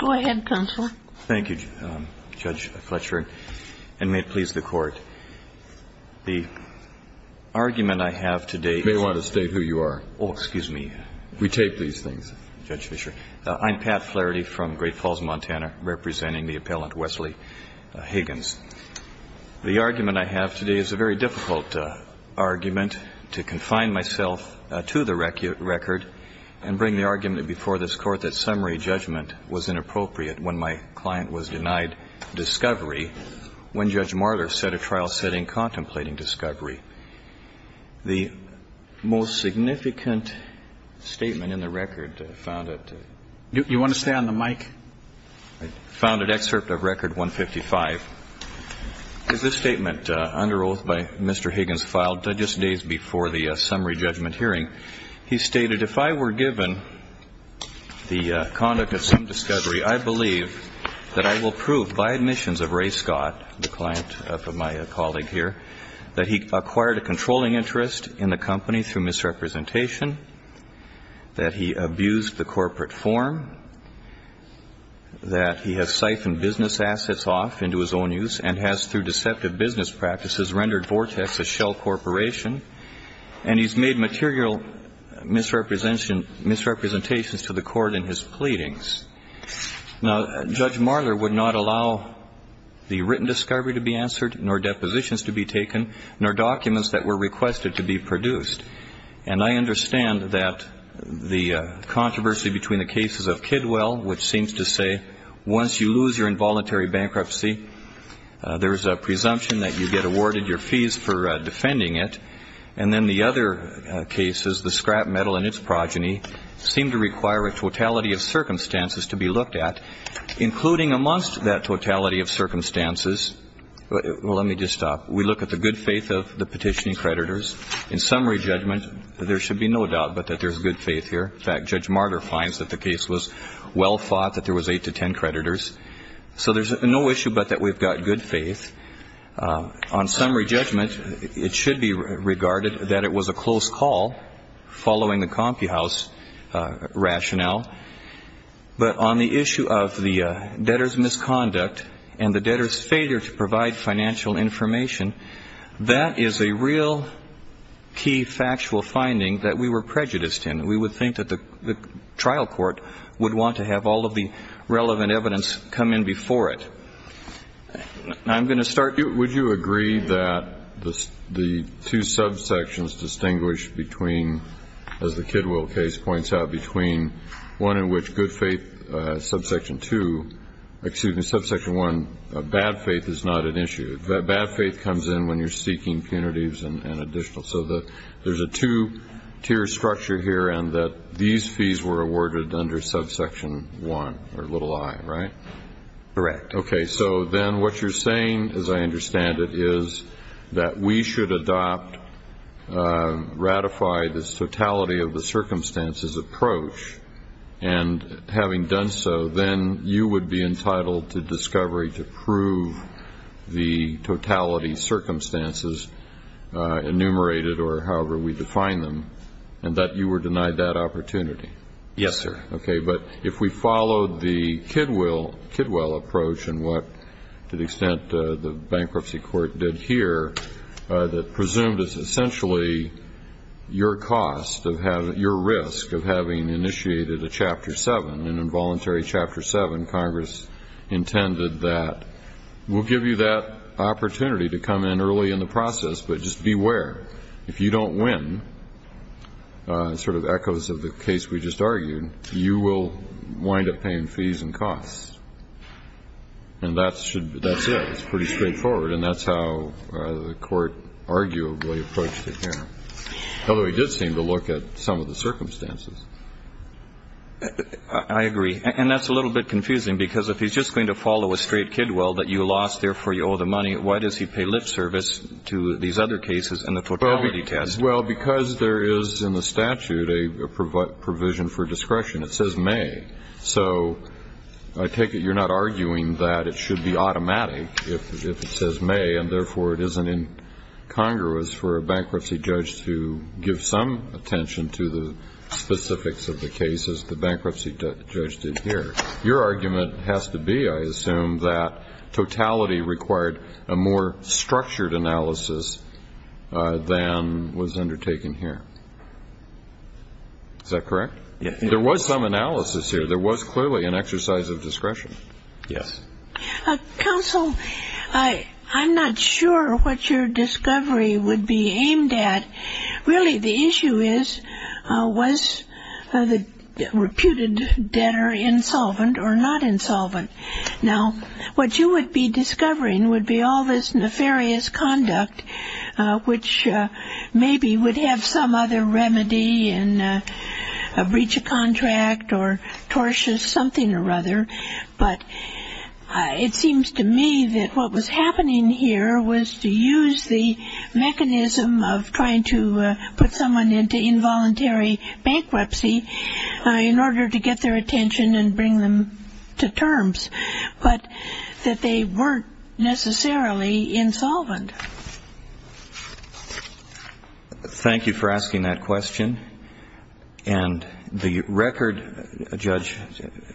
I am Pat Flaherty from Great Falls, Montana, representing the Appellant Wesley Higgins. The argument I have today is a very difficult argument to confine myself to the record and bring the argument before this Court that summary judgment was inappropriate when my client was denied discovery when Judge Marler set a trial setting contemplating discovery. The most significant statement in the record found at excerpt of Record 155 is this statement under oath by Mr. Higgins filed just days before the summary judgment hearing. He stated, if I were given the conduct of some discovery, I believe that I will prove by admissions of Ray Scott, the client of my colleague here, that he acquired a controlling interest in the company through misrepresentation, that he abused the corporate form, that he has siphoned business assets off into his own use and has, through deceptive business practices, rendered Vortex a shell corporation, and he has made material misrepresentations to the Court in his pleadings. Now, Judge Marler would not allow the written discovery to be answered, nor depositions to be taken, nor documents that were requested to be produced. And I understand that the controversy between the cases of Kidwell, which seems to say once you lose your involuntary bankruptcy, there is a presumption that you get awarded your fees for defending it, and then the other cases, the scrap metal and its progeny, seem to require a totality of circumstances to be looked at, including amongst that totality of circumstances we look at the good faith of the petitioning creditors. In summary judgment, there should be no doubt but that there is good faith here. In fact, Judge Marler finds that the case was well fought, that there was eight to ten creditors. So there's no issue but that we've got good faith. On summary judgment, it should be regarded that it was a close call following the CompuHouse rationale. But on the issue of the debtor's misconduct and the debtor's failure to provide financial information, that is a real key factual finding that we were prejudiced in. We would think that the trial court would want to have all of the relevant evidence come in before it. I'm going to start you. Would you agree that the two subsections distinguished between, as the Kidwell case points out, between one in which good faith, subsection two, excuse me, subsection one, bad faith is not an issue. Bad faith comes in when you're seeking punitives and additional. So that there's a two-tier structure here and that these fees were awarded under subsection one, or little i, right? Correct. Okay. So then what you're saying, as I understand it, is that we should adopt, ratify this totality of the circumstances approach. And having done so, then you would be entitled to discovery to prove the totality circumstances enumerated, or however we define them, and that you were denied that opportunity. Yes, sir. Okay. But if we followed the Kidwell approach and what, to the extent the bankruptcy court did here, that presumed it's essentially your cost of having, your risk of having initiated a chapter seven, an involuntary chapter seven, Congress intended that, we'll give you that opportunity to come in early in the process, but just beware. If you don't win, sort of echoes of the case we just argued, you will wind up paying fees and costs. And that should be, that's it. It's pretty straightforward. And that's how the court arguably approached it here. Although he did seem to look at some of the circumstances. I agree. And that's a little bit confusing, because if he's just going to follow a straight Kidwell that you lost, therefore you owe the money, why does he pay lip service to these other cases and the totality test? Well, because there is in the statute a provision for discretion. It says may. So I take it you're not arguing that it should be automatic if it says may, and therefore it isn't in Congress for a bankruptcy judge to give some attention to the specifics of the cases the bankruptcy judge did here. Your argument has to be, I assume, that totality required a more structured analysis than was undertaken here. Is that correct? Yes. There was some analysis here. There was clearly an exercise of discretion. Yes. Counsel, I'm not sure what your discovery would be aimed at. Really the issue is, was the reputed debtor insolvent or not insolvent? Now, what you would be discovering would be all this nefarious conduct, which maybe would have some other remedy in a breach of contract or tortious something or other, but it seems to me that what was happening here was to use the mechanism of trying to put someone into involuntary bankruptcy in order to get their attention and bring them to terms, but that they weren't necessarily insolvent. Thank you for asking that question. And the record, Judge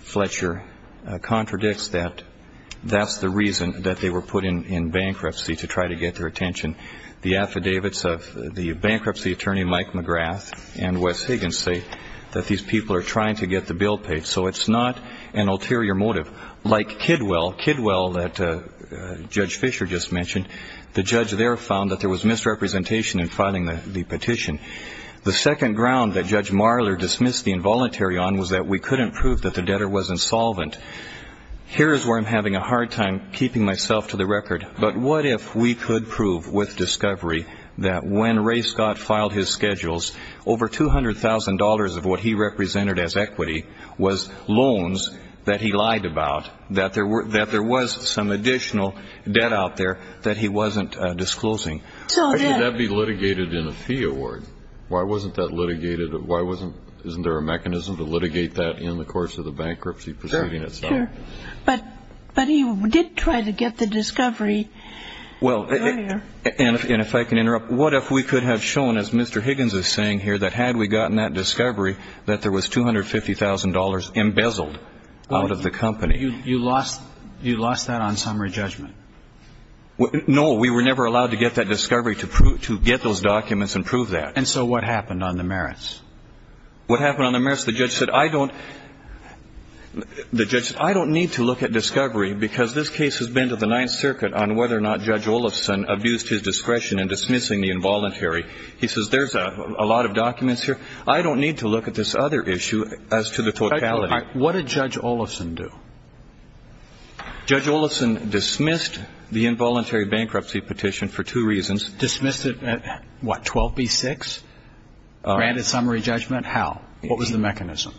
Fletcher, contradicts that that's the reason that they were put in bankruptcy to try to get their attention. The affidavits of the bankruptcy attorney Mike McGrath and Wes Higgins say that these people are trying to get the bill paid, so it's not an ulterior motive. Like Kidwell, Kidwell that Judge Fisher just mentioned, the judge there found that there was misrepresentation in filing the petition. The second ground that Judge Marler dismissed the involuntary on was that we couldn't prove that the debtor was insolvent. Here is where I'm having a hard time keeping myself to the record, but what if we could prove with discovery that when Ray Scott filed his schedules, over $200,000 of what he represented as equity was loans that he lied about, that there was some additional debt out there that he wasn't disclosing? So then... Why would that be litigated in a fee award? Why wasn't that litigated? Why wasn't, isn't there a mechanism to litigate that in the course of the bankruptcy proceeding itself? Sure, sure. But he did try to get the discovery earlier. Well, and if I can interrupt, what if we could have shown, as Mr. Higgins is saying here, that had we gotten that discovery, that there was $250,000 embezzled out of the company? You lost that on summary judgment. No, we were never allowed to get that discovery to get those documents and prove that. And so what happened on the merits? What happened on the merits? The judge said, I don't need to look at discovery because this case has been to the Ninth Circuit on whether or not Judge Olofsson abused his discretion in dismissing the involuntary. He says, there's a lot of documents here. I don't need to look at this other issue as to the totality. All right. What did Judge Olofsson do? Judge Olofsson dismissed the involuntary bankruptcy petition for two reasons. Dismissed it at what, 12B-6? Granted summary judgment? How? What was the mechanism?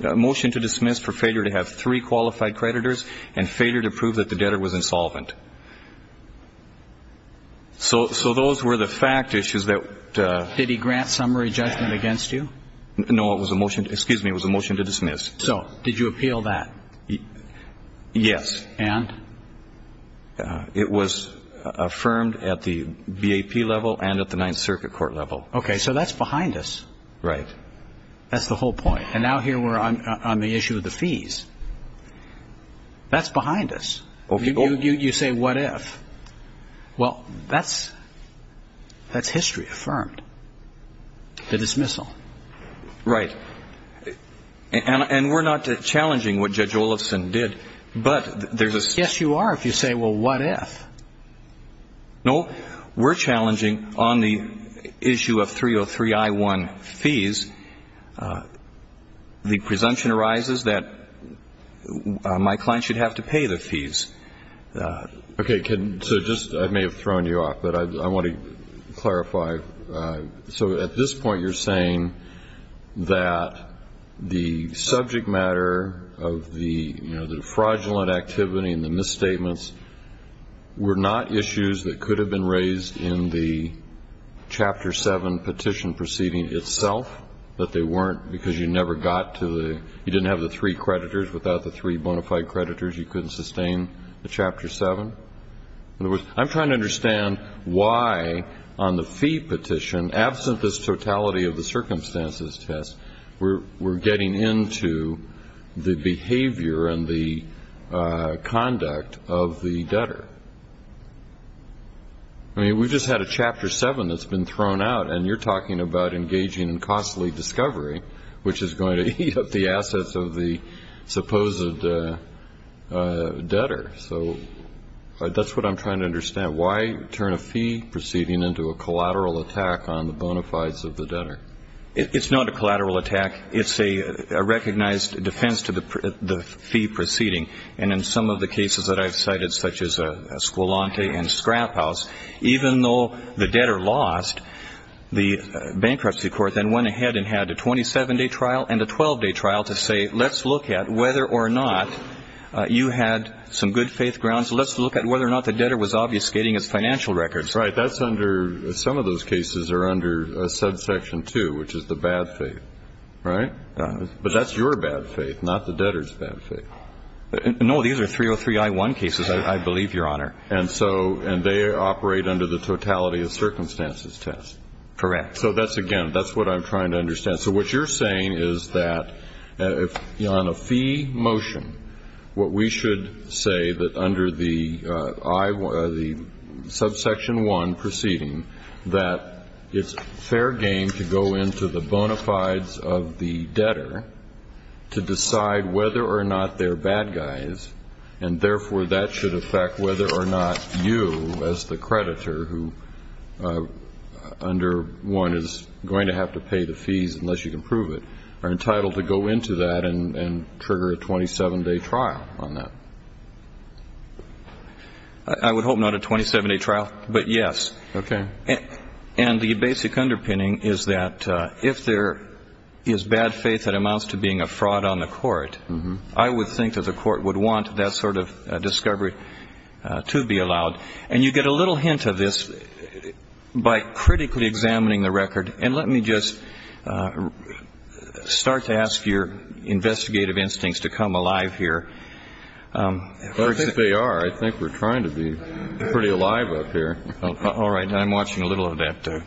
Motion to dismiss for failure to have three qualified creditors and failure to prove that the debtor was insolvent. So those were the fact issues that... Did he grant summary judgment against you? No, it was a motion to, excuse me, it was a motion to dismiss. So did you appeal that? Yes. And? It was affirmed at the BAP level and at the Ninth Circuit court level. Okay, so that's behind us. Right. That's the whole point. And now here we're on the issue of the fees. That's behind us. You say, what if? Well, that's history affirmed. The dismissal. Right. And we're not challenging what Judge Olofsson did, but there's a... Yes, you are, if you say, well, what if? No, we're challenging on the issue of 303-I-1 fees, the presumption arises that my client should have to pay the fees. Okay, so just, I may have thrown you off, but I want to clarify. So at this point you're saying that the subject matter of the fraudulent activity and the misstatements were not issues that could have been raised in the Chapter 7 petition proceeding itself, that they weren't because you never got to the... without the three bona fide creditors, you couldn't sustain the Chapter 7? In other words, I'm trying to understand why on the fee petition, absent this totality of the circumstances test, we're getting into the behavior and the conduct of the debtor. I mean, we just had a Chapter 7 that's been thrown out, and you're talking about engaging in costly discovery, which is going to eat up the assets of the supposed debtor. So that's what I'm trying to understand. Why turn a fee proceeding into a collateral attack on the bona fides of the debtor? It's not a collateral attack. It's a recognized defense to the fee proceeding, and in some of the cases that I've cited, such as Esquilante and Scrap House, even though the debtor lost, the bankruptcy court then went ahead and had a 27-day trial and a 12-day trial to say, let's look at whether or not you had some good faith grounds. Let's look at whether or not the debtor was obfuscating his financial records. Right. That's under some of those cases are under subsection 2, which is the bad faith, right? But that's your bad faith, not the debtor's bad faith. No, these are 303-I-1 cases, I believe, Your Honor. And so they operate under the totality of circumstances test. So that's, again, that's what I'm trying to understand. So what you're saying is that on a fee motion, what we should say that under the subsection 1 proceeding, that it's fair game to go into the bona fides of the debtor to decide whether or not they're bad guys, and therefore that should affect whether or not you, as the creditor, who under 1 is going to have to pay the fees unless you can prove it, are entitled to go into that and trigger a 27-day trial on that? I would hope not a 27-day trial, but yes. Okay. And the basic underpinning is that if there is bad faith that amounts to being a fraud on the court, I would think that the court would want that sort of discovery to be allowed. And you get a little hint of this by critically examining the record. And let me just start to ask your investigative instincts to come alive here. I think they are. I think we're trying to be pretty alive up here. All right. I'm watching a little of that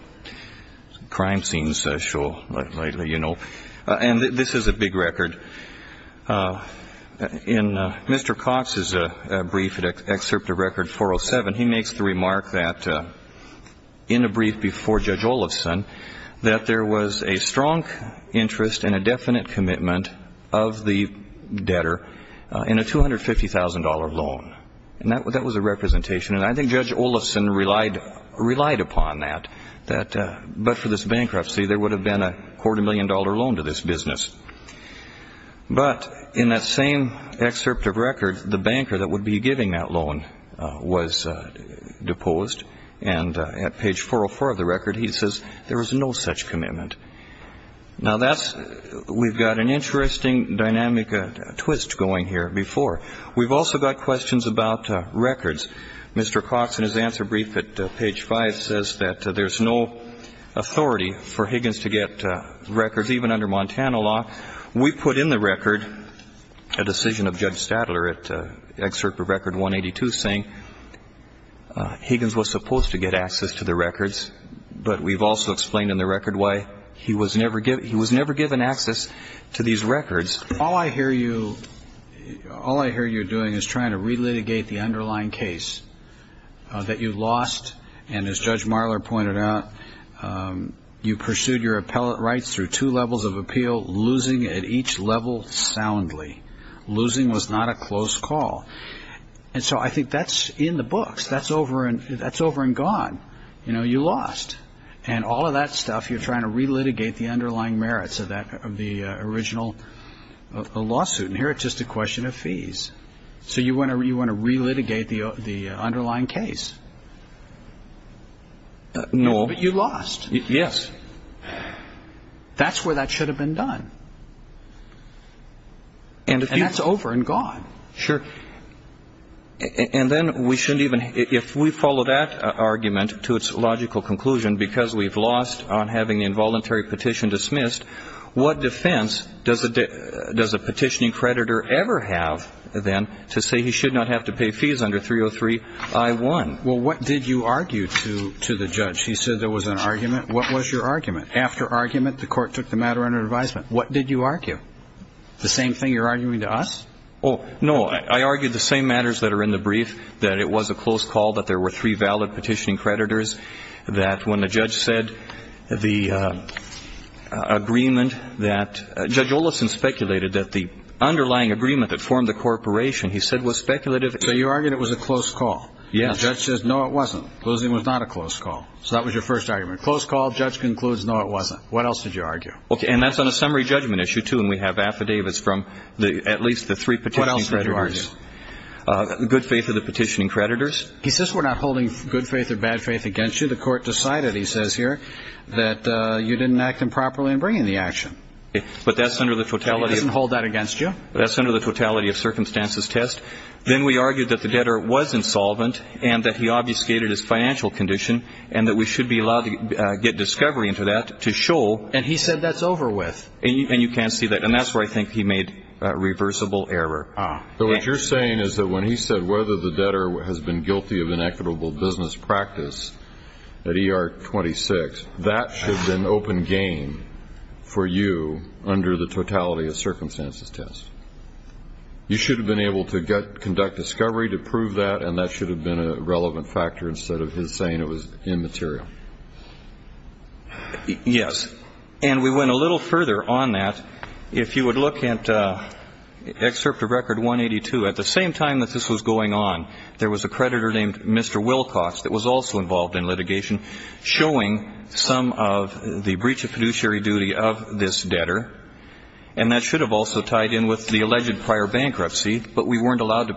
crime scene show lately, you know. And this is a big record. In Mr. Cox's brief, Excerpt of Record 407, he makes the remark that in a brief before Judge Olovson that there was a strong interest and a definite commitment of the debtor in a $250,000 loan. And that was a representation. And I think Judge Olovson relied upon that. But for this bankruptcy, there would have been a quarter-million-dollar loan to this business. But in that same excerpt of record, the banker that would be giving that loan was deposed. And at page 404 of the record, he says there was no such commitment. Now, that's we've got an interesting dynamic twist going here before. We've also got questions about records. Mr. Cox in his answer brief at page 5 says that there's no authority for Higgins to get records, even under Montana law. We put in the record a decision of Judge Stadler at Excerpt of Record 182, saying Higgins was supposed to get access to the records. But we've also explained in the record why he was never given access to these records. All I hear you doing is trying to relitigate the underlying case that you lost. And as Judge Marler pointed out, you pursued your appellate rights through two levels of appeal, losing at each level soundly. Losing was not a close call. And so I think that's in the books. That's over and gone. You know, you lost. And all of that stuff you're trying to relitigate the underlying merits of the original lawsuit. And here it's just a question of fees. So you want to relitigate the underlying case. No. But you lost. Yes. That's where that should have been done. And that's over and gone. Sure. And then we shouldn't even ñ if we follow that argument to its logical conclusion, because we've lost on having the involuntary petition dismissed, what defense does a petitioning creditor ever have, then, to say he should not have to pay fees under 303 I-1? Well, what did you argue to the judge? He said there was an argument. What was your argument? After argument, the court took the matter under advisement. What did you argue? The same thing you're arguing to us? Oh, no. I argued the same matters that are in the brief, that it was a close call that there were three valid petitioning creditors, that when the judge said the agreement that ñ Judge Olison speculated that the underlying agreement that formed the corporation, he said, was speculative. So you argued it was a close call. Yes. And the judge says, no, it wasn't. Closing was not a close call. So that was your first argument. Close call, judge concludes, no, it wasn't. What else did you argue? Okay, and that's on a summary judgment issue, too, when we have affidavits from at least the three petitioning creditors. What else did you argue? Good faith of the petitioning creditors. He says we're not holding good faith or bad faith against you. The court decided, he says here, that you didn't act improperly in bringing the action. But that's under the totality of ñ He doesn't hold that against you. That's under the totality of circumstances test. Then we argued that the debtor was insolvent and that he obfuscated his financial condition and that we should be allowed to get discovery into that to show ñ And he said that's over with. And you can't see that. And that's where I think he made a reversible error. So what you're saying is that when he said whether the debtor has been guilty of inequitable business practice at ER 26, that should have been open game for you under the totality of circumstances test. You should have been able to conduct discovery to prove that, and that should have been a relevant factor instead of his saying it was immaterial. Yes. And we went a little further on that. If you would look at Excerpt of Record 182, at the same time that this was going on, there was a creditor named Mr. Wilcox that was also involved in litigation showing some of the breach of fiduciary duty of this debtor, and that should have also tied in with the alleged prior bankruptcy, but we weren't allowed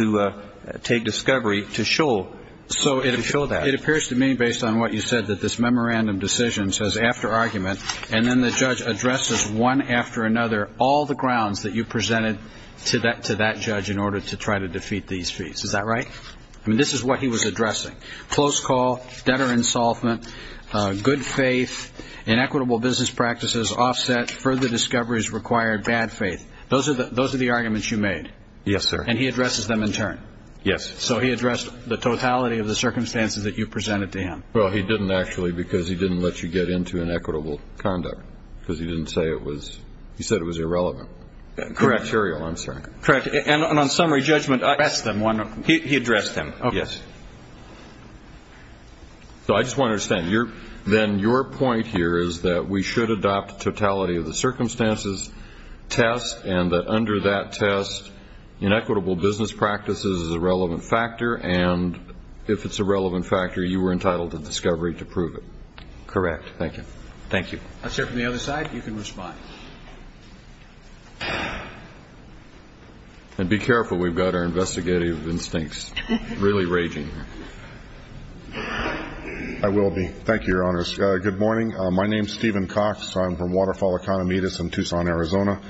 to take discovery to show that. It appears to me, based on what you said, that this memorandum decision says after argument, and then the judge addresses one after another all the grounds that you presented to that judge in order to try to defeat these feats. Is that right? I mean, this is what he was addressing. Close call, debtor insolvent, good faith, inequitable business practices offset, further discoveries required, bad faith. Those are the arguments you made. Yes, sir. And he addresses them in turn. Yes. So he addressed the totality of the circumstances that you presented to him. Well, he didn't, actually, because he didn't let you get into inequitable conduct, because he didn't say it was he said it was irrelevant. Correct. Criteria, I'm sorry. Correct. And on summary judgment, I addressed them one after another. He addressed them. Okay. Yes. So I just want to understand, then your point here is that we should adopt totality of the circumstances test and that under that test, inequitable business practices is a relevant factor, and if it's a relevant factor, you were entitled to discovery to prove it. Correct. Thank you. Thank you. Let's hear from the other side. You can respond. And be careful. We've got our investigative instincts really raging here. I will be. Thank you, Your Honors. Good morning. My name is Stephen Cox. I'm from Waterfall Economitas in Tucson, Arizona,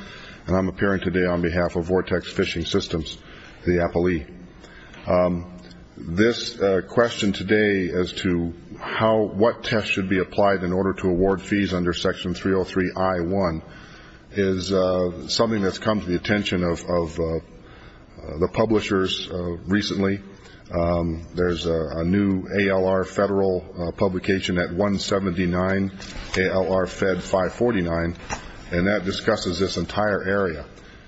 and I'm appearing today on behalf of Vortex Fishing Systems, the appellee. This question today as to what tests should be applied in order to award fees under Section 303 I-1 is something that's come to the attention of the publishers recently. There's a new ALR Federal publication at 179 ALR Fed 549, and that discusses this entire area.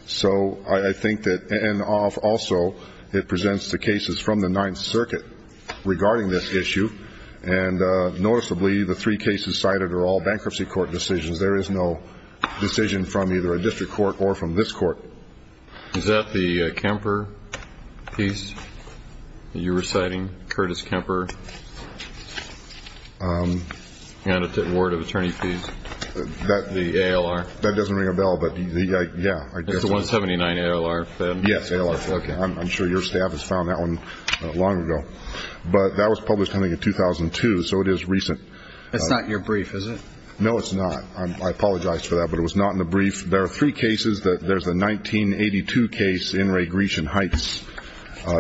So I think that also it presents the cases from the Ninth Circuit regarding this issue, and noticeably the three cases cited are all bankruptcy court decisions. There is no decision from either a district court or from this court. Is that the Kemper piece that you're reciting, Curtis Kemper Award of Attorney Fees, the ALR? That doesn't ring a bell, but, yeah. It's the 179 ALR Fed? Yes, ALR. Okay. I'm sure your staff has found that one long ago. But that was published, I think, in 2002, so it is recent. That's not your brief, is it? No, it's not. I apologize for that, but it was not in the brief. There are three cases. There's a 1982 case, In re Grecian Heights,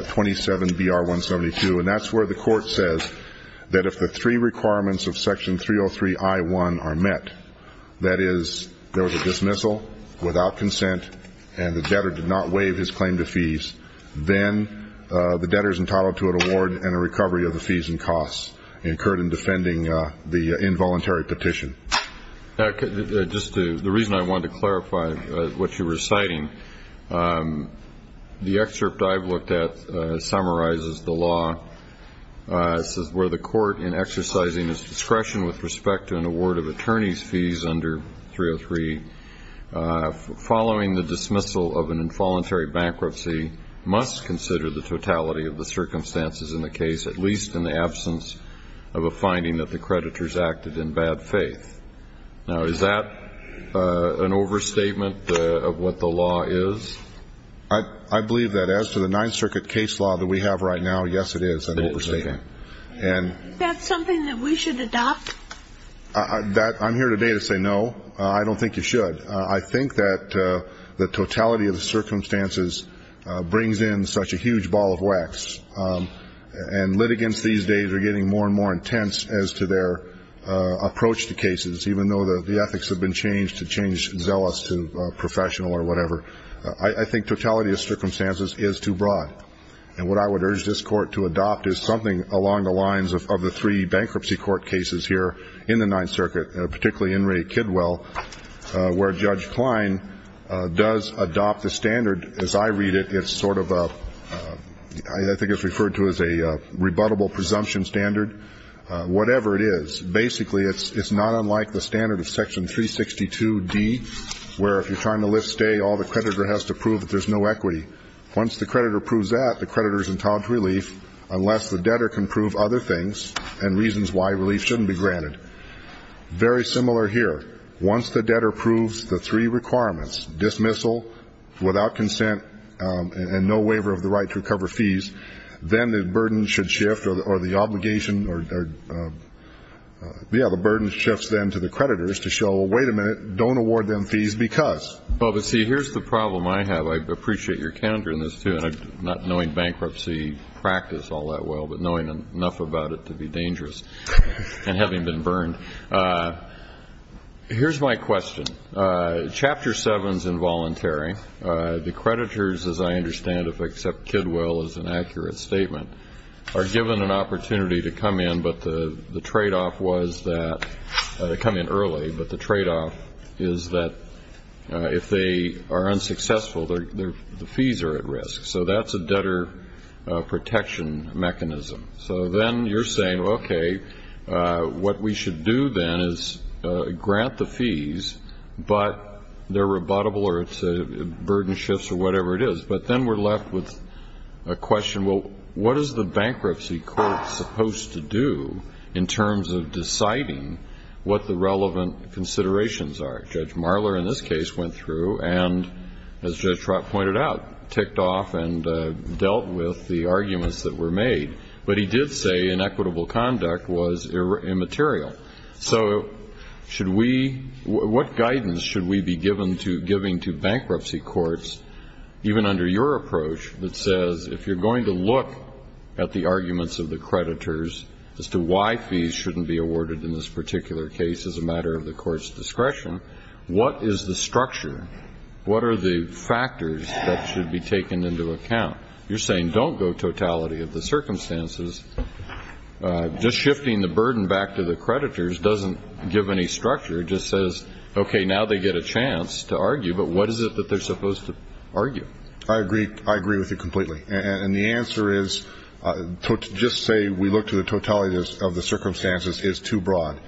27 BR 172, and that's where the court says that if the three requirements of Section 303 I-1 are met, that is there was a dismissal without consent and the debtor did not waive his claim to fees, then the debtor is entitled to an award and a recovery of the fees and costs incurred in defending the involuntary petition. Just the reason I wanted to clarify what you're reciting, the excerpt I've looked at summarizes the law where the court, in exercising its discretion with respect to an award of attorney's fees under 303, following the dismissal of an involuntary bankruptcy, must consider the totality of the circumstances in the case, at least in the absence of a finding that the creditors acted in bad faith. Now, is that an overstatement of what the law is? I believe that as to the Ninth Circuit case law that we have right now, yes, it is an overstatement. Is that something that we should adopt? I'm here today to say no. I don't think you should. I think that the totality of the circumstances brings in such a huge ball of wax, and litigants these days are getting more and more intense as to their approach to cases, even though the ethics have been changed to change zealous to professional or whatever. I think totality of circumstances is too broad, and what I would urge this court to adopt is something along the lines of the three bankruptcy court cases here in the Ninth Circuit, particularly in Ray Kidwell, where Judge Klein does adopt the standard. As I read it, it's sort of a ‑‑ I think it's referred to as a rebuttable presumption standard. Whatever it is, basically it's not unlike the standard of Section 362D, where if you're trying to lift stay, all the creditor has to prove that there's no equity. Once the creditor proves that, the creditor is entitled to relief, unless the debtor can prove other things and reasons why relief shouldn't be granted. Very similar here. Once the debtor proves the three requirements, dismissal, without consent, and no waiver of the right to recover fees, then the burden should shift or the obligation or, yeah, the burden shifts then to the creditors to show, well, wait a minute, don't award them fees because. Well, but see, here's the problem I have. I appreciate your candor in this, too, and not knowing bankruptcy practice all that well, but knowing enough about it to be dangerous and having been burned. Here's my question. Chapter 7 is involuntary. The creditors, as I understand it, except kid will is an accurate statement, are given an opportunity to come in, but the tradeoff was that they come in early, but the tradeoff is that if they are unsuccessful, the fees are at risk. So that's a debtor protection mechanism. So then you're saying, okay, what we should do then is grant the fees, but they're rebuttable or it's a burden shifts or whatever it is. But then we're left with a question, well, what is the bankruptcy court supposed to do in terms of deciding what the relevant considerations are? Judge Marler in this case went through and, as Judge Trott pointed out, ticked off and dealt with the arguments that were made. But he did say inequitable conduct was immaterial. So should we, what guidance should we be giving to bankruptcy courts, even under your approach that says if you're going to look at the arguments of the creditors as to why fees shouldn't be awarded in this particular case as a matter of the court's discretion, what is the structure, what are the factors that should be taken into account? You're saying don't go totality of the circumstances. Just shifting the burden back to the creditors doesn't give any structure. It just says, okay, now they get a chance to argue, but what is it that they're supposed to argue? I agree. I agree with you completely. And the answer is just say we look to the totality of the circumstances is too broad.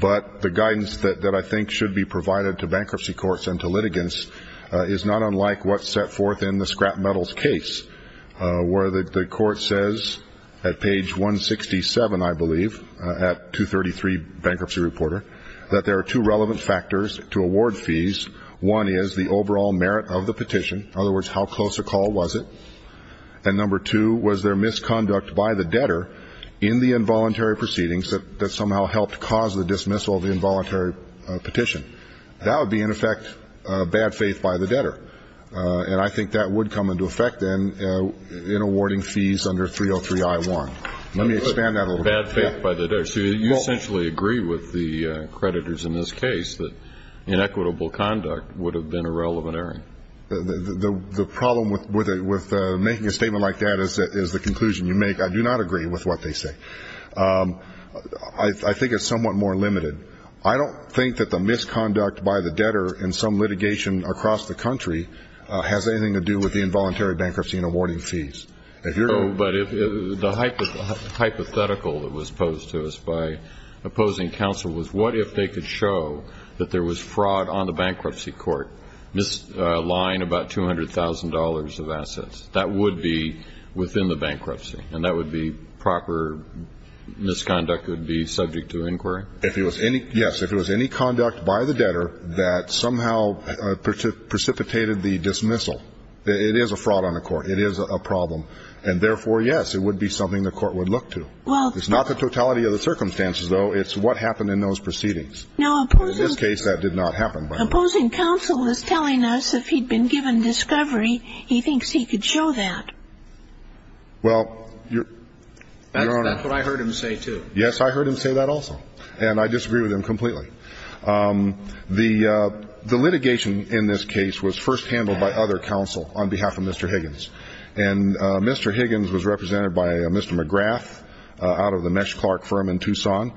But the guidance that I think should be provided to bankruptcy courts and to litigants is not unlike what's set forth in the scrap metals case, where the court says at page 167, I believe, at 233 Bankruptcy Reporter, that there are two relevant factors to award fees. One is the overall merit of the petition. In other words, how close a call was it? And number two, was there misconduct by the debtor in the involuntary proceedings that somehow helped cause the dismissal of the involuntary petition? That would be, in effect, bad faith by the debtor. And I think that would come into effect then in awarding fees under 303-I-1. Let me expand that a little bit. Bad faith by the debtor. You essentially agree with the creditors in this case that inequitable conduct would have been irrelevant. The problem with making a statement like that is the conclusion you make. I do not agree with what they say. I think it's somewhat more limited. I don't think that the misconduct by the debtor in some litigation across the country has anything to do with the involuntary bankruptcy in awarding fees. But the hypothetical that was posed to us by opposing counsel was, what if they could show that there was fraud on the bankruptcy court, misaligned about $200,000 of assets? That would be within the bankruptcy, and that would be proper misconduct would be subject to inquiry? Yes. If it was any conduct by the debtor that somehow precipitated the dismissal, it is a fraud on the court. It is a problem. And therefore, yes, it would be something the court would look to. It's not the totality of the circumstances, though. It's what happened in those proceedings. In this case, that did not happen, by the way. Now, opposing counsel is telling us if he'd been given discovery, he thinks he could show that. Well, Your Honor. That's what I heard him say, too. Yes, I heard him say that also. And I disagree with him completely. The litigation in this case was first handled by other counsel on behalf of Mr. Higgins. And Mr. Higgins was represented by Mr. McGrath out of the Mesh Clark firm in Tucson.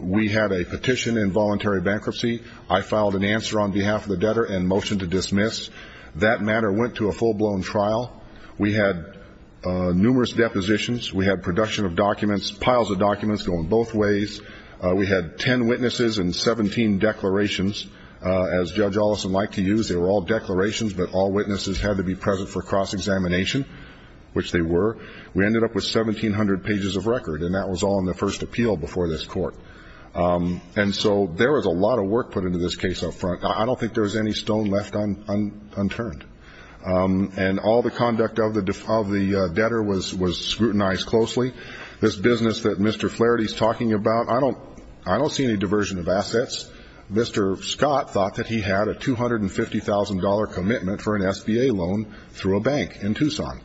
We had a petition in voluntary bankruptcy. I filed an answer on behalf of the debtor and motion to dismiss. That matter went to a full-blown trial. We had numerous depositions. We had production of documents, piles of documents going both ways. We had 10 witnesses and 17 declarations. As Judge Olson liked to use, they were all declarations, but all witnesses had to be present for cross-examination, which they were. We ended up with 1,700 pages of record, and that was all in the first appeal before this court. And so there was a lot of work put into this case up front. I don't think there was any stone left unturned. And all the conduct of the debtor was scrutinized closely. This business that Mr. Flaherty is talking about, I don't see any diversion of assets. Mr. Scott thought that he had a $250,000 commitment for an SBA loan through a bank in Tucson.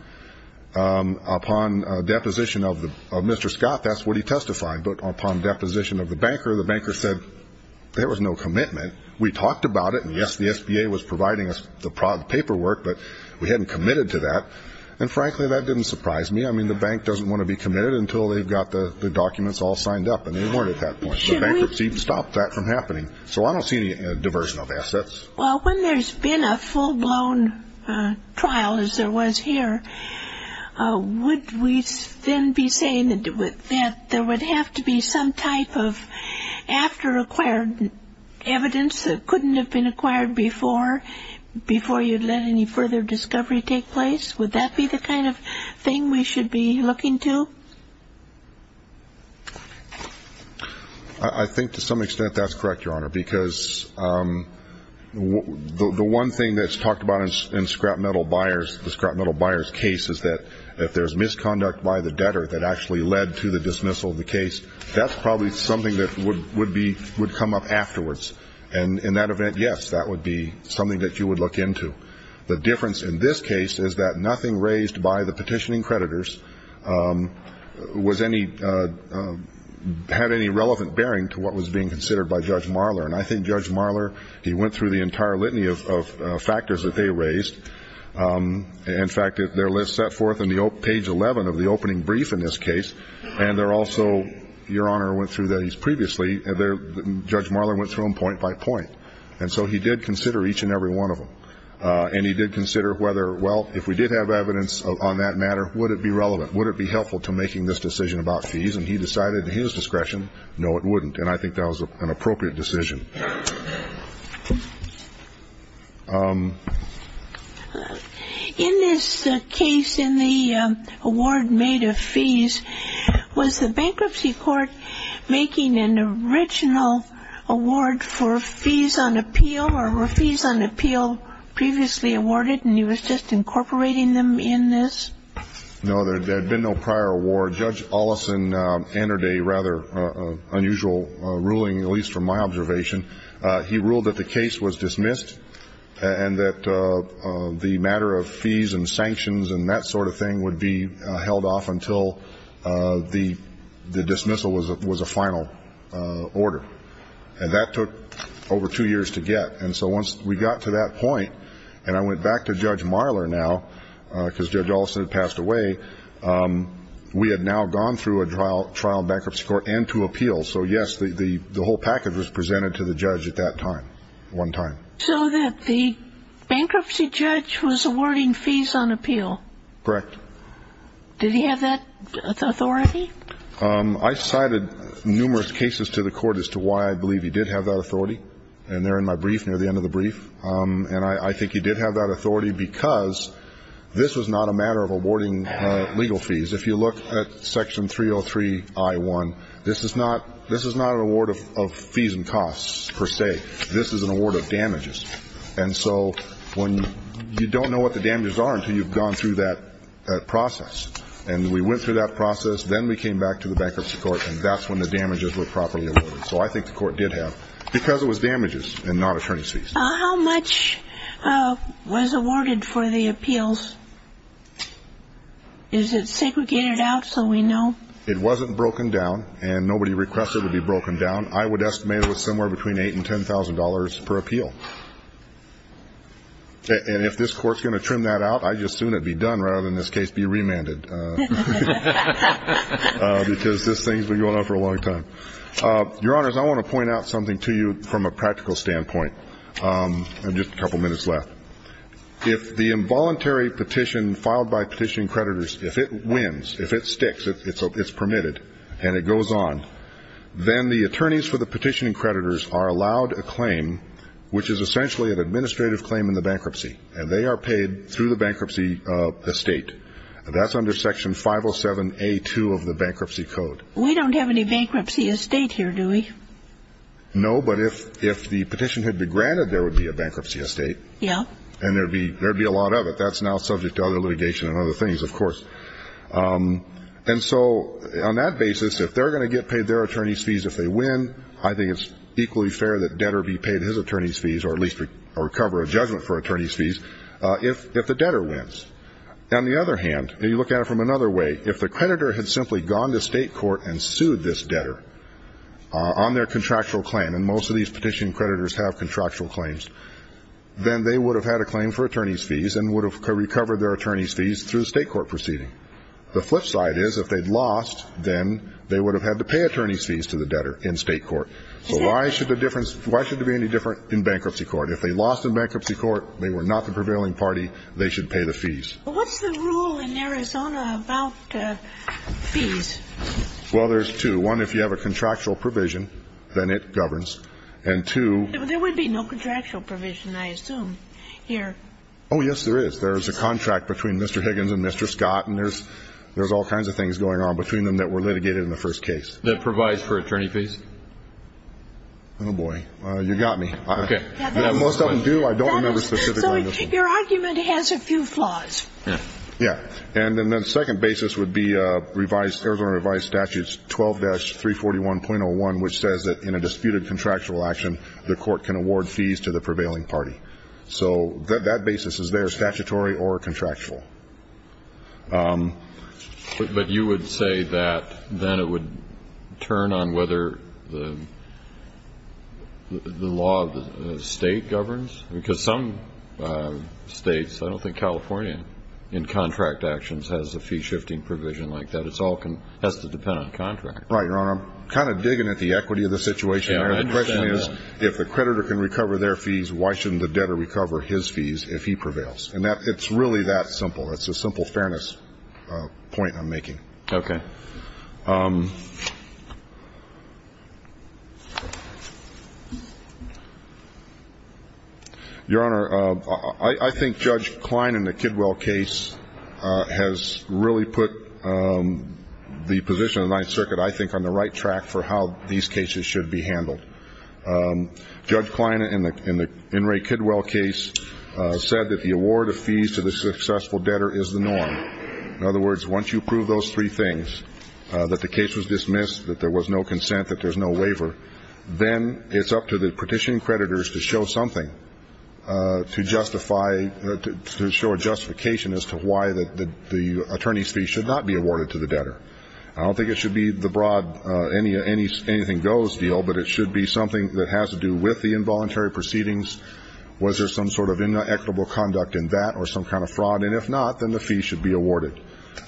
Upon deposition of Mr. Scott, that's what he testified. But upon deposition of the banker, the banker said there was no commitment. We talked about it, and, yes, the SBA was providing us the paperwork, but we hadn't committed to that. And, frankly, that didn't surprise me. I mean, the bank doesn't want to be committed until they've got the documents all signed up. And they weren't at that point. The bankruptcy stopped that from happening. So I don't see any diversion of assets. Well, when there's been a full-blown trial, as there was here, would we then be saying that there would have to be some type of after-acquired evidence that couldn't have been acquired before, before you'd let any further discovery take place? Would that be the kind of thing we should be looking to? I think to some extent that's correct, Your Honor, because the one thing that's talked about in the scrap metal buyer's case is that if there's misconduct by the debtor that actually led to the dismissal of the case, that's probably something that would come up afterwards. And in that event, yes, that would be something that you would look into. The difference in this case is that nothing raised by the petitioning creditors had any relevant bearing to what was being considered by Judge Marler. And I think Judge Marler, he went through the entire litany of factors that they raised. In fact, their list set forth on page 11 of the opening brief in this case, and there also, Your Honor, went through these previously. Judge Marler went through them point by point. And so he did consider each and every one of them. And he did consider whether, well, if we did have evidence on that matter, would it be relevant? Would it be helpful to making this decision about fees? And he decided at his discretion, no, it wouldn't. And I think that was an appropriate decision. In this case, in the award made of fees, was the bankruptcy court making an original award for fees on appeal, or were fees on appeal previously awarded and he was just incorporating them in this? No, there had been no prior award. Judge Oleson entered a rather unusual ruling, at least from my observation, he ruled that the case was dismissed and that the matter of fees and sanctions and that sort of thing would be held off until the dismissal was a final order. And that took over two years to get. And so once we got to that point, and I went back to Judge Marler now, because Judge Olson had passed away, we had now gone through a trial bankruptcy court and to appeal. So, yes, the whole package was presented to the judge at that time, one time. So that the bankruptcy judge was awarding fees on appeal? Correct. Did he have that authority? I cited numerous cases to the court as to why I believe he did have that authority, and they're in my brief near the end of the brief. And I think he did have that authority because this was not a matter of awarding legal fees. If you look at Section 303I1, this is not an award of fees and costs per se. This is an award of damages. And so when you don't know what the damages are until you've gone through that process. And we went through that process, then we came back to the bankruptcy court, and that's when the damages were properly awarded. So I think the court did have, because it was damages and not attorney's fees. How much was awarded for the appeals? Is it segregated out so we know? It wasn't broken down, and nobody requested it to be broken down. I would estimate it was somewhere between $8,000 and $10,000 per appeal. And if this court's going to trim that out, I just assume it would be done rather than this case be remanded. Because this thing's been going on for a long time. Your Honors, I want to point out something to you from a practical standpoint. I have just a couple minutes left. If the involuntary petition filed by petitioning creditors, if it wins, if it sticks, if it's permitted and it goes on, then the attorneys for the petitioning creditors are allowed a claim, which is essentially an administrative claim in the bankruptcy, and they are paid through the bankruptcy estate. That's under Section 507A2 of the Bankruptcy Code. We don't have any bankruptcy estate here, do we? No, but if the petition had been granted, there would be a bankruptcy estate. Yeah. And there would be a lot of it. That's now subject to other litigation and other things, of course. And so on that basis, if they're going to get paid their attorney's fees if they win, I think it's equally fair that debtor be paid his attorney's fees or at least recover a judgment for attorney's fees if the debtor wins. On the other hand, if you look at it from another way, if the creditor had simply gone to state court and sued this debtor on their contractual claim, and most of these petition creditors have contractual claims, then they would have had a claim for attorney's fees and would have recovered their attorney's fees through the state court proceeding. The flip side is if they'd lost, then they would have had to pay attorney's fees to the debtor in state court. So why should there be any difference in bankruptcy court? If they lost in bankruptcy court, they were not the prevailing party, they should pay the fees. What's the rule in Arizona about fees? Well, there's two. One, if you have a contractual provision, then it governs. And two. There would be no contractual provision, I assume, here. Oh, yes, there is. There's a contract between Mr. Higgins and Mr. Scott, and there's all kinds of things going on between them that were litigated in the first case. That provides for attorney's fees? Oh, boy. You got me. Okay. Most of them do. I don't remember specifically. So your argument has a few flaws. Yeah. Yeah. And then the second basis would be Arizona revised statutes 12-341.01, which says that in a disputed contractual action, the court can award fees to the prevailing party. So that basis is there, statutory or contractual. But you would say that then it would turn on whether the law of the state governs? Because some states, I don't think California in contract actions has a fee-shifting provision like that. It all has to depend on contract. Right, Your Honor. I'm kind of digging at the equity of the situation here. The question is, if the creditor can recover their fees, why shouldn't the debtor recover his fees if he prevails? And it's really that simple. It's a simple fairness point I'm making. Okay. Your Honor, I think Judge Klein in the Kidwell case has really put the position of the Ninth Circuit, I think, on the right track for how these cases should be handled. Judge Klein in the In re Kidwell case said that the award of fees to the successful debtor is the norm. In other words, once you prove those three things, that the case was dismissed, that there was no consent, that there's no waiver, then it's up to the petitioning creditors to show something, to show a justification as to why the attorney's fee should not be awarded to the debtor. I don't think it should be the broad anything goes deal, but it should be something that has to do with the involuntary proceedings. Was there some sort of inequitable conduct in that or some kind of fraud? And if not, then the fee should be awarded.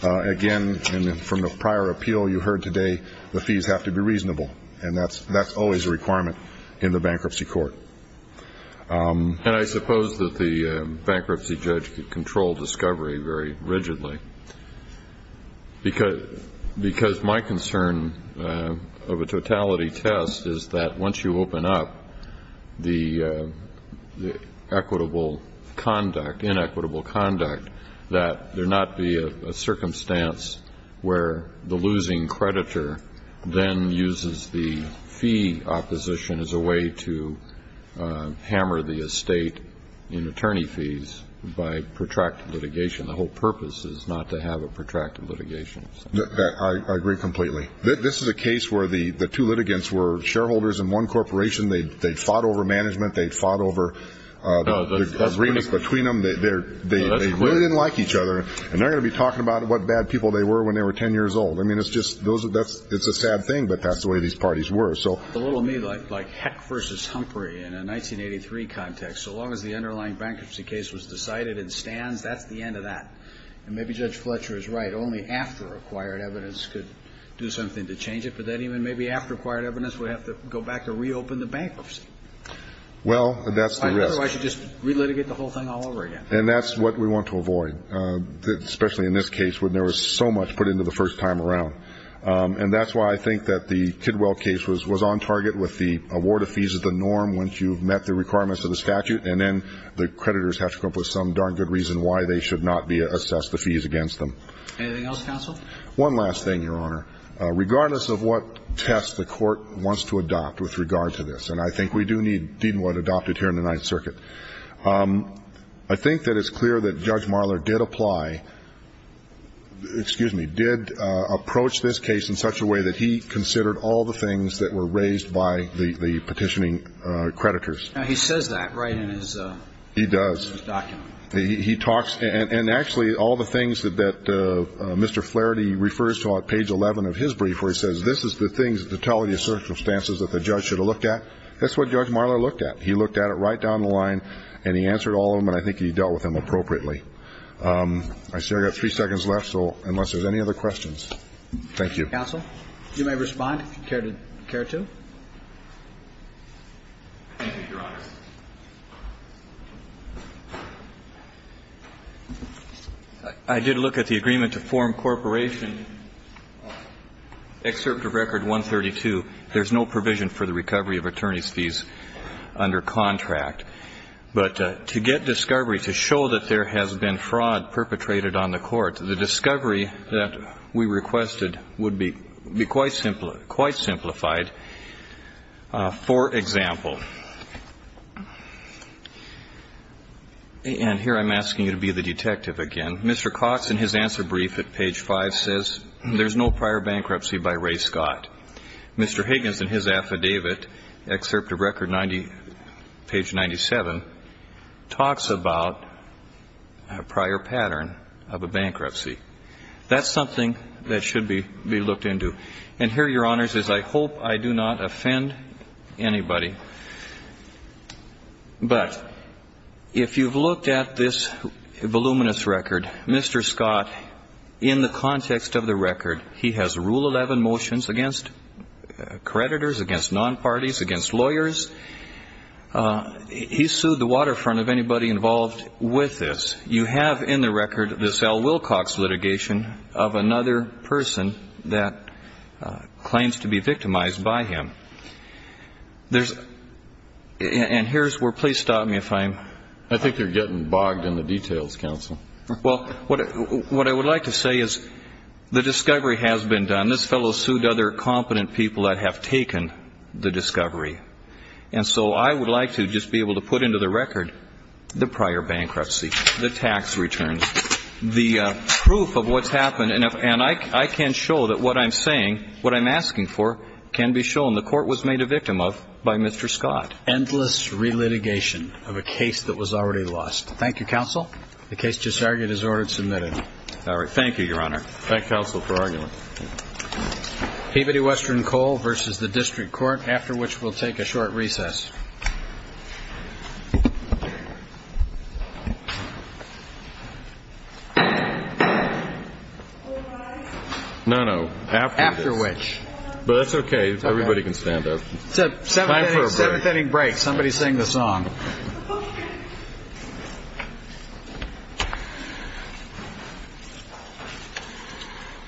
Again, from the prior appeal you heard today, the fees have to be reasonable, and that's always a requirement in the bankruptcy court. And I suppose that the bankruptcy judge could control discovery very rigidly, because my concern of a totality test is that once you open up the equitable conduct, inequitable conduct, that there not be a circumstance where the losing creditor then uses the fee opposition as a way to hammer the estate in attorney fees by protracted litigation. The whole purpose is not to have a protracted litigation. I agree completely. This is a case where the two litigants were shareholders in one corporation. They fought over management. They fought over the agreements between them. They really didn't like each other, and they're going to be talking about what bad people they were when they were 10 years old. I mean, it's a sad thing, but that's the way these parties were. It's a little me like heck versus Humphrey in a 1983 context. So long as the underlying bankruptcy case was decided and stands, that's the end of that. And maybe Judge Fletcher is right. Only after acquired evidence could do something to change it, but then even maybe after acquired evidence we have to go back and reopen the bankruptcy. Well, that's the risk. Otherwise you just relitigate the whole thing all over again. And that's what we want to avoid, especially in this case when there was so much put into the first time around. And that's why I think that the Kidwell case was on target with the award of fees as the norm once you've met the requirements of the statute, and then the creditors have to come up with some darn good reason why they should not be assessed the fees against them. Anything else, counsel? One last thing, Your Honor. Regardless of what test the Court wants to adopt with regard to this, and I think we do need Deatonwood adopted here in the Ninth Circuit, I think that it's clear that Judge Marler did apply, excuse me, did approach this case in such a way that he considered all the things that were raised by the petitioning creditors. He says that right in his document. He does. He talks, and actually all the things that Mr. Flaherty refers to on page 11 of his brief where he says this is the things, the totality of circumstances that the judge should have looked at, that's what Judge Marler looked at. He looked at it right down the line and he answered all of them, and I think he dealt with them appropriately. I see I've got three seconds left, so unless there's any other questions. Thank you. Counsel? You may respond if you care to. Thank you, Your Honor. I did look at the agreement to form Corporation Excerpt of Record 132. There's no provision for the recovery of attorney's fees under contract. But to get discovery, to show that there has been fraud perpetrated on the Court, the discovery that we requested would be quite simplified. For example, and here I'm asking you to be the detective again, Mr. Cox in his answer brief at page 5 says there's no prior bankruptcy by Ray Scott. Mr. Higgins in his affidavit, Excerpt of Record 90, page 97, talks about a prior pattern of a bankruptcy. That's something that should be looked into. And here, Your Honors, is I hope I do not offend anybody, but if you've looked at this voluminous record, in the context of the record, he has Rule 11 motions against creditors, against non-parties, against lawyers. He sued the waterfront of anybody involved with this. You have in the record this Al Wilcox litigation of another person that claims to be victimized by him. And here's where ‑‑ please stop me if I'm ‑‑ I think you're getting bogged in the details, counsel. Well, what I would like to say is the discovery has been done. This fellow sued other competent people that have taken the discovery. And so I would like to just be able to put into the record the prior bankruptcy, the tax returns, the proof of what's happened. And I can show that what I'm saying, what I'm asking for can be shown. The court was made a victim of by Mr. Scott. Endless relitigation of a case that was already lost. Thank you, counsel. The case just argued is ordered submitted. All right. Thank you, Your Honor. Thank counsel for arguing. Peabody Western Coal versus the District Court, after which we'll take a short recess. No, no. After which. But that's okay. Everybody can stand up. It's a seventh inning break. Somebody sing the song.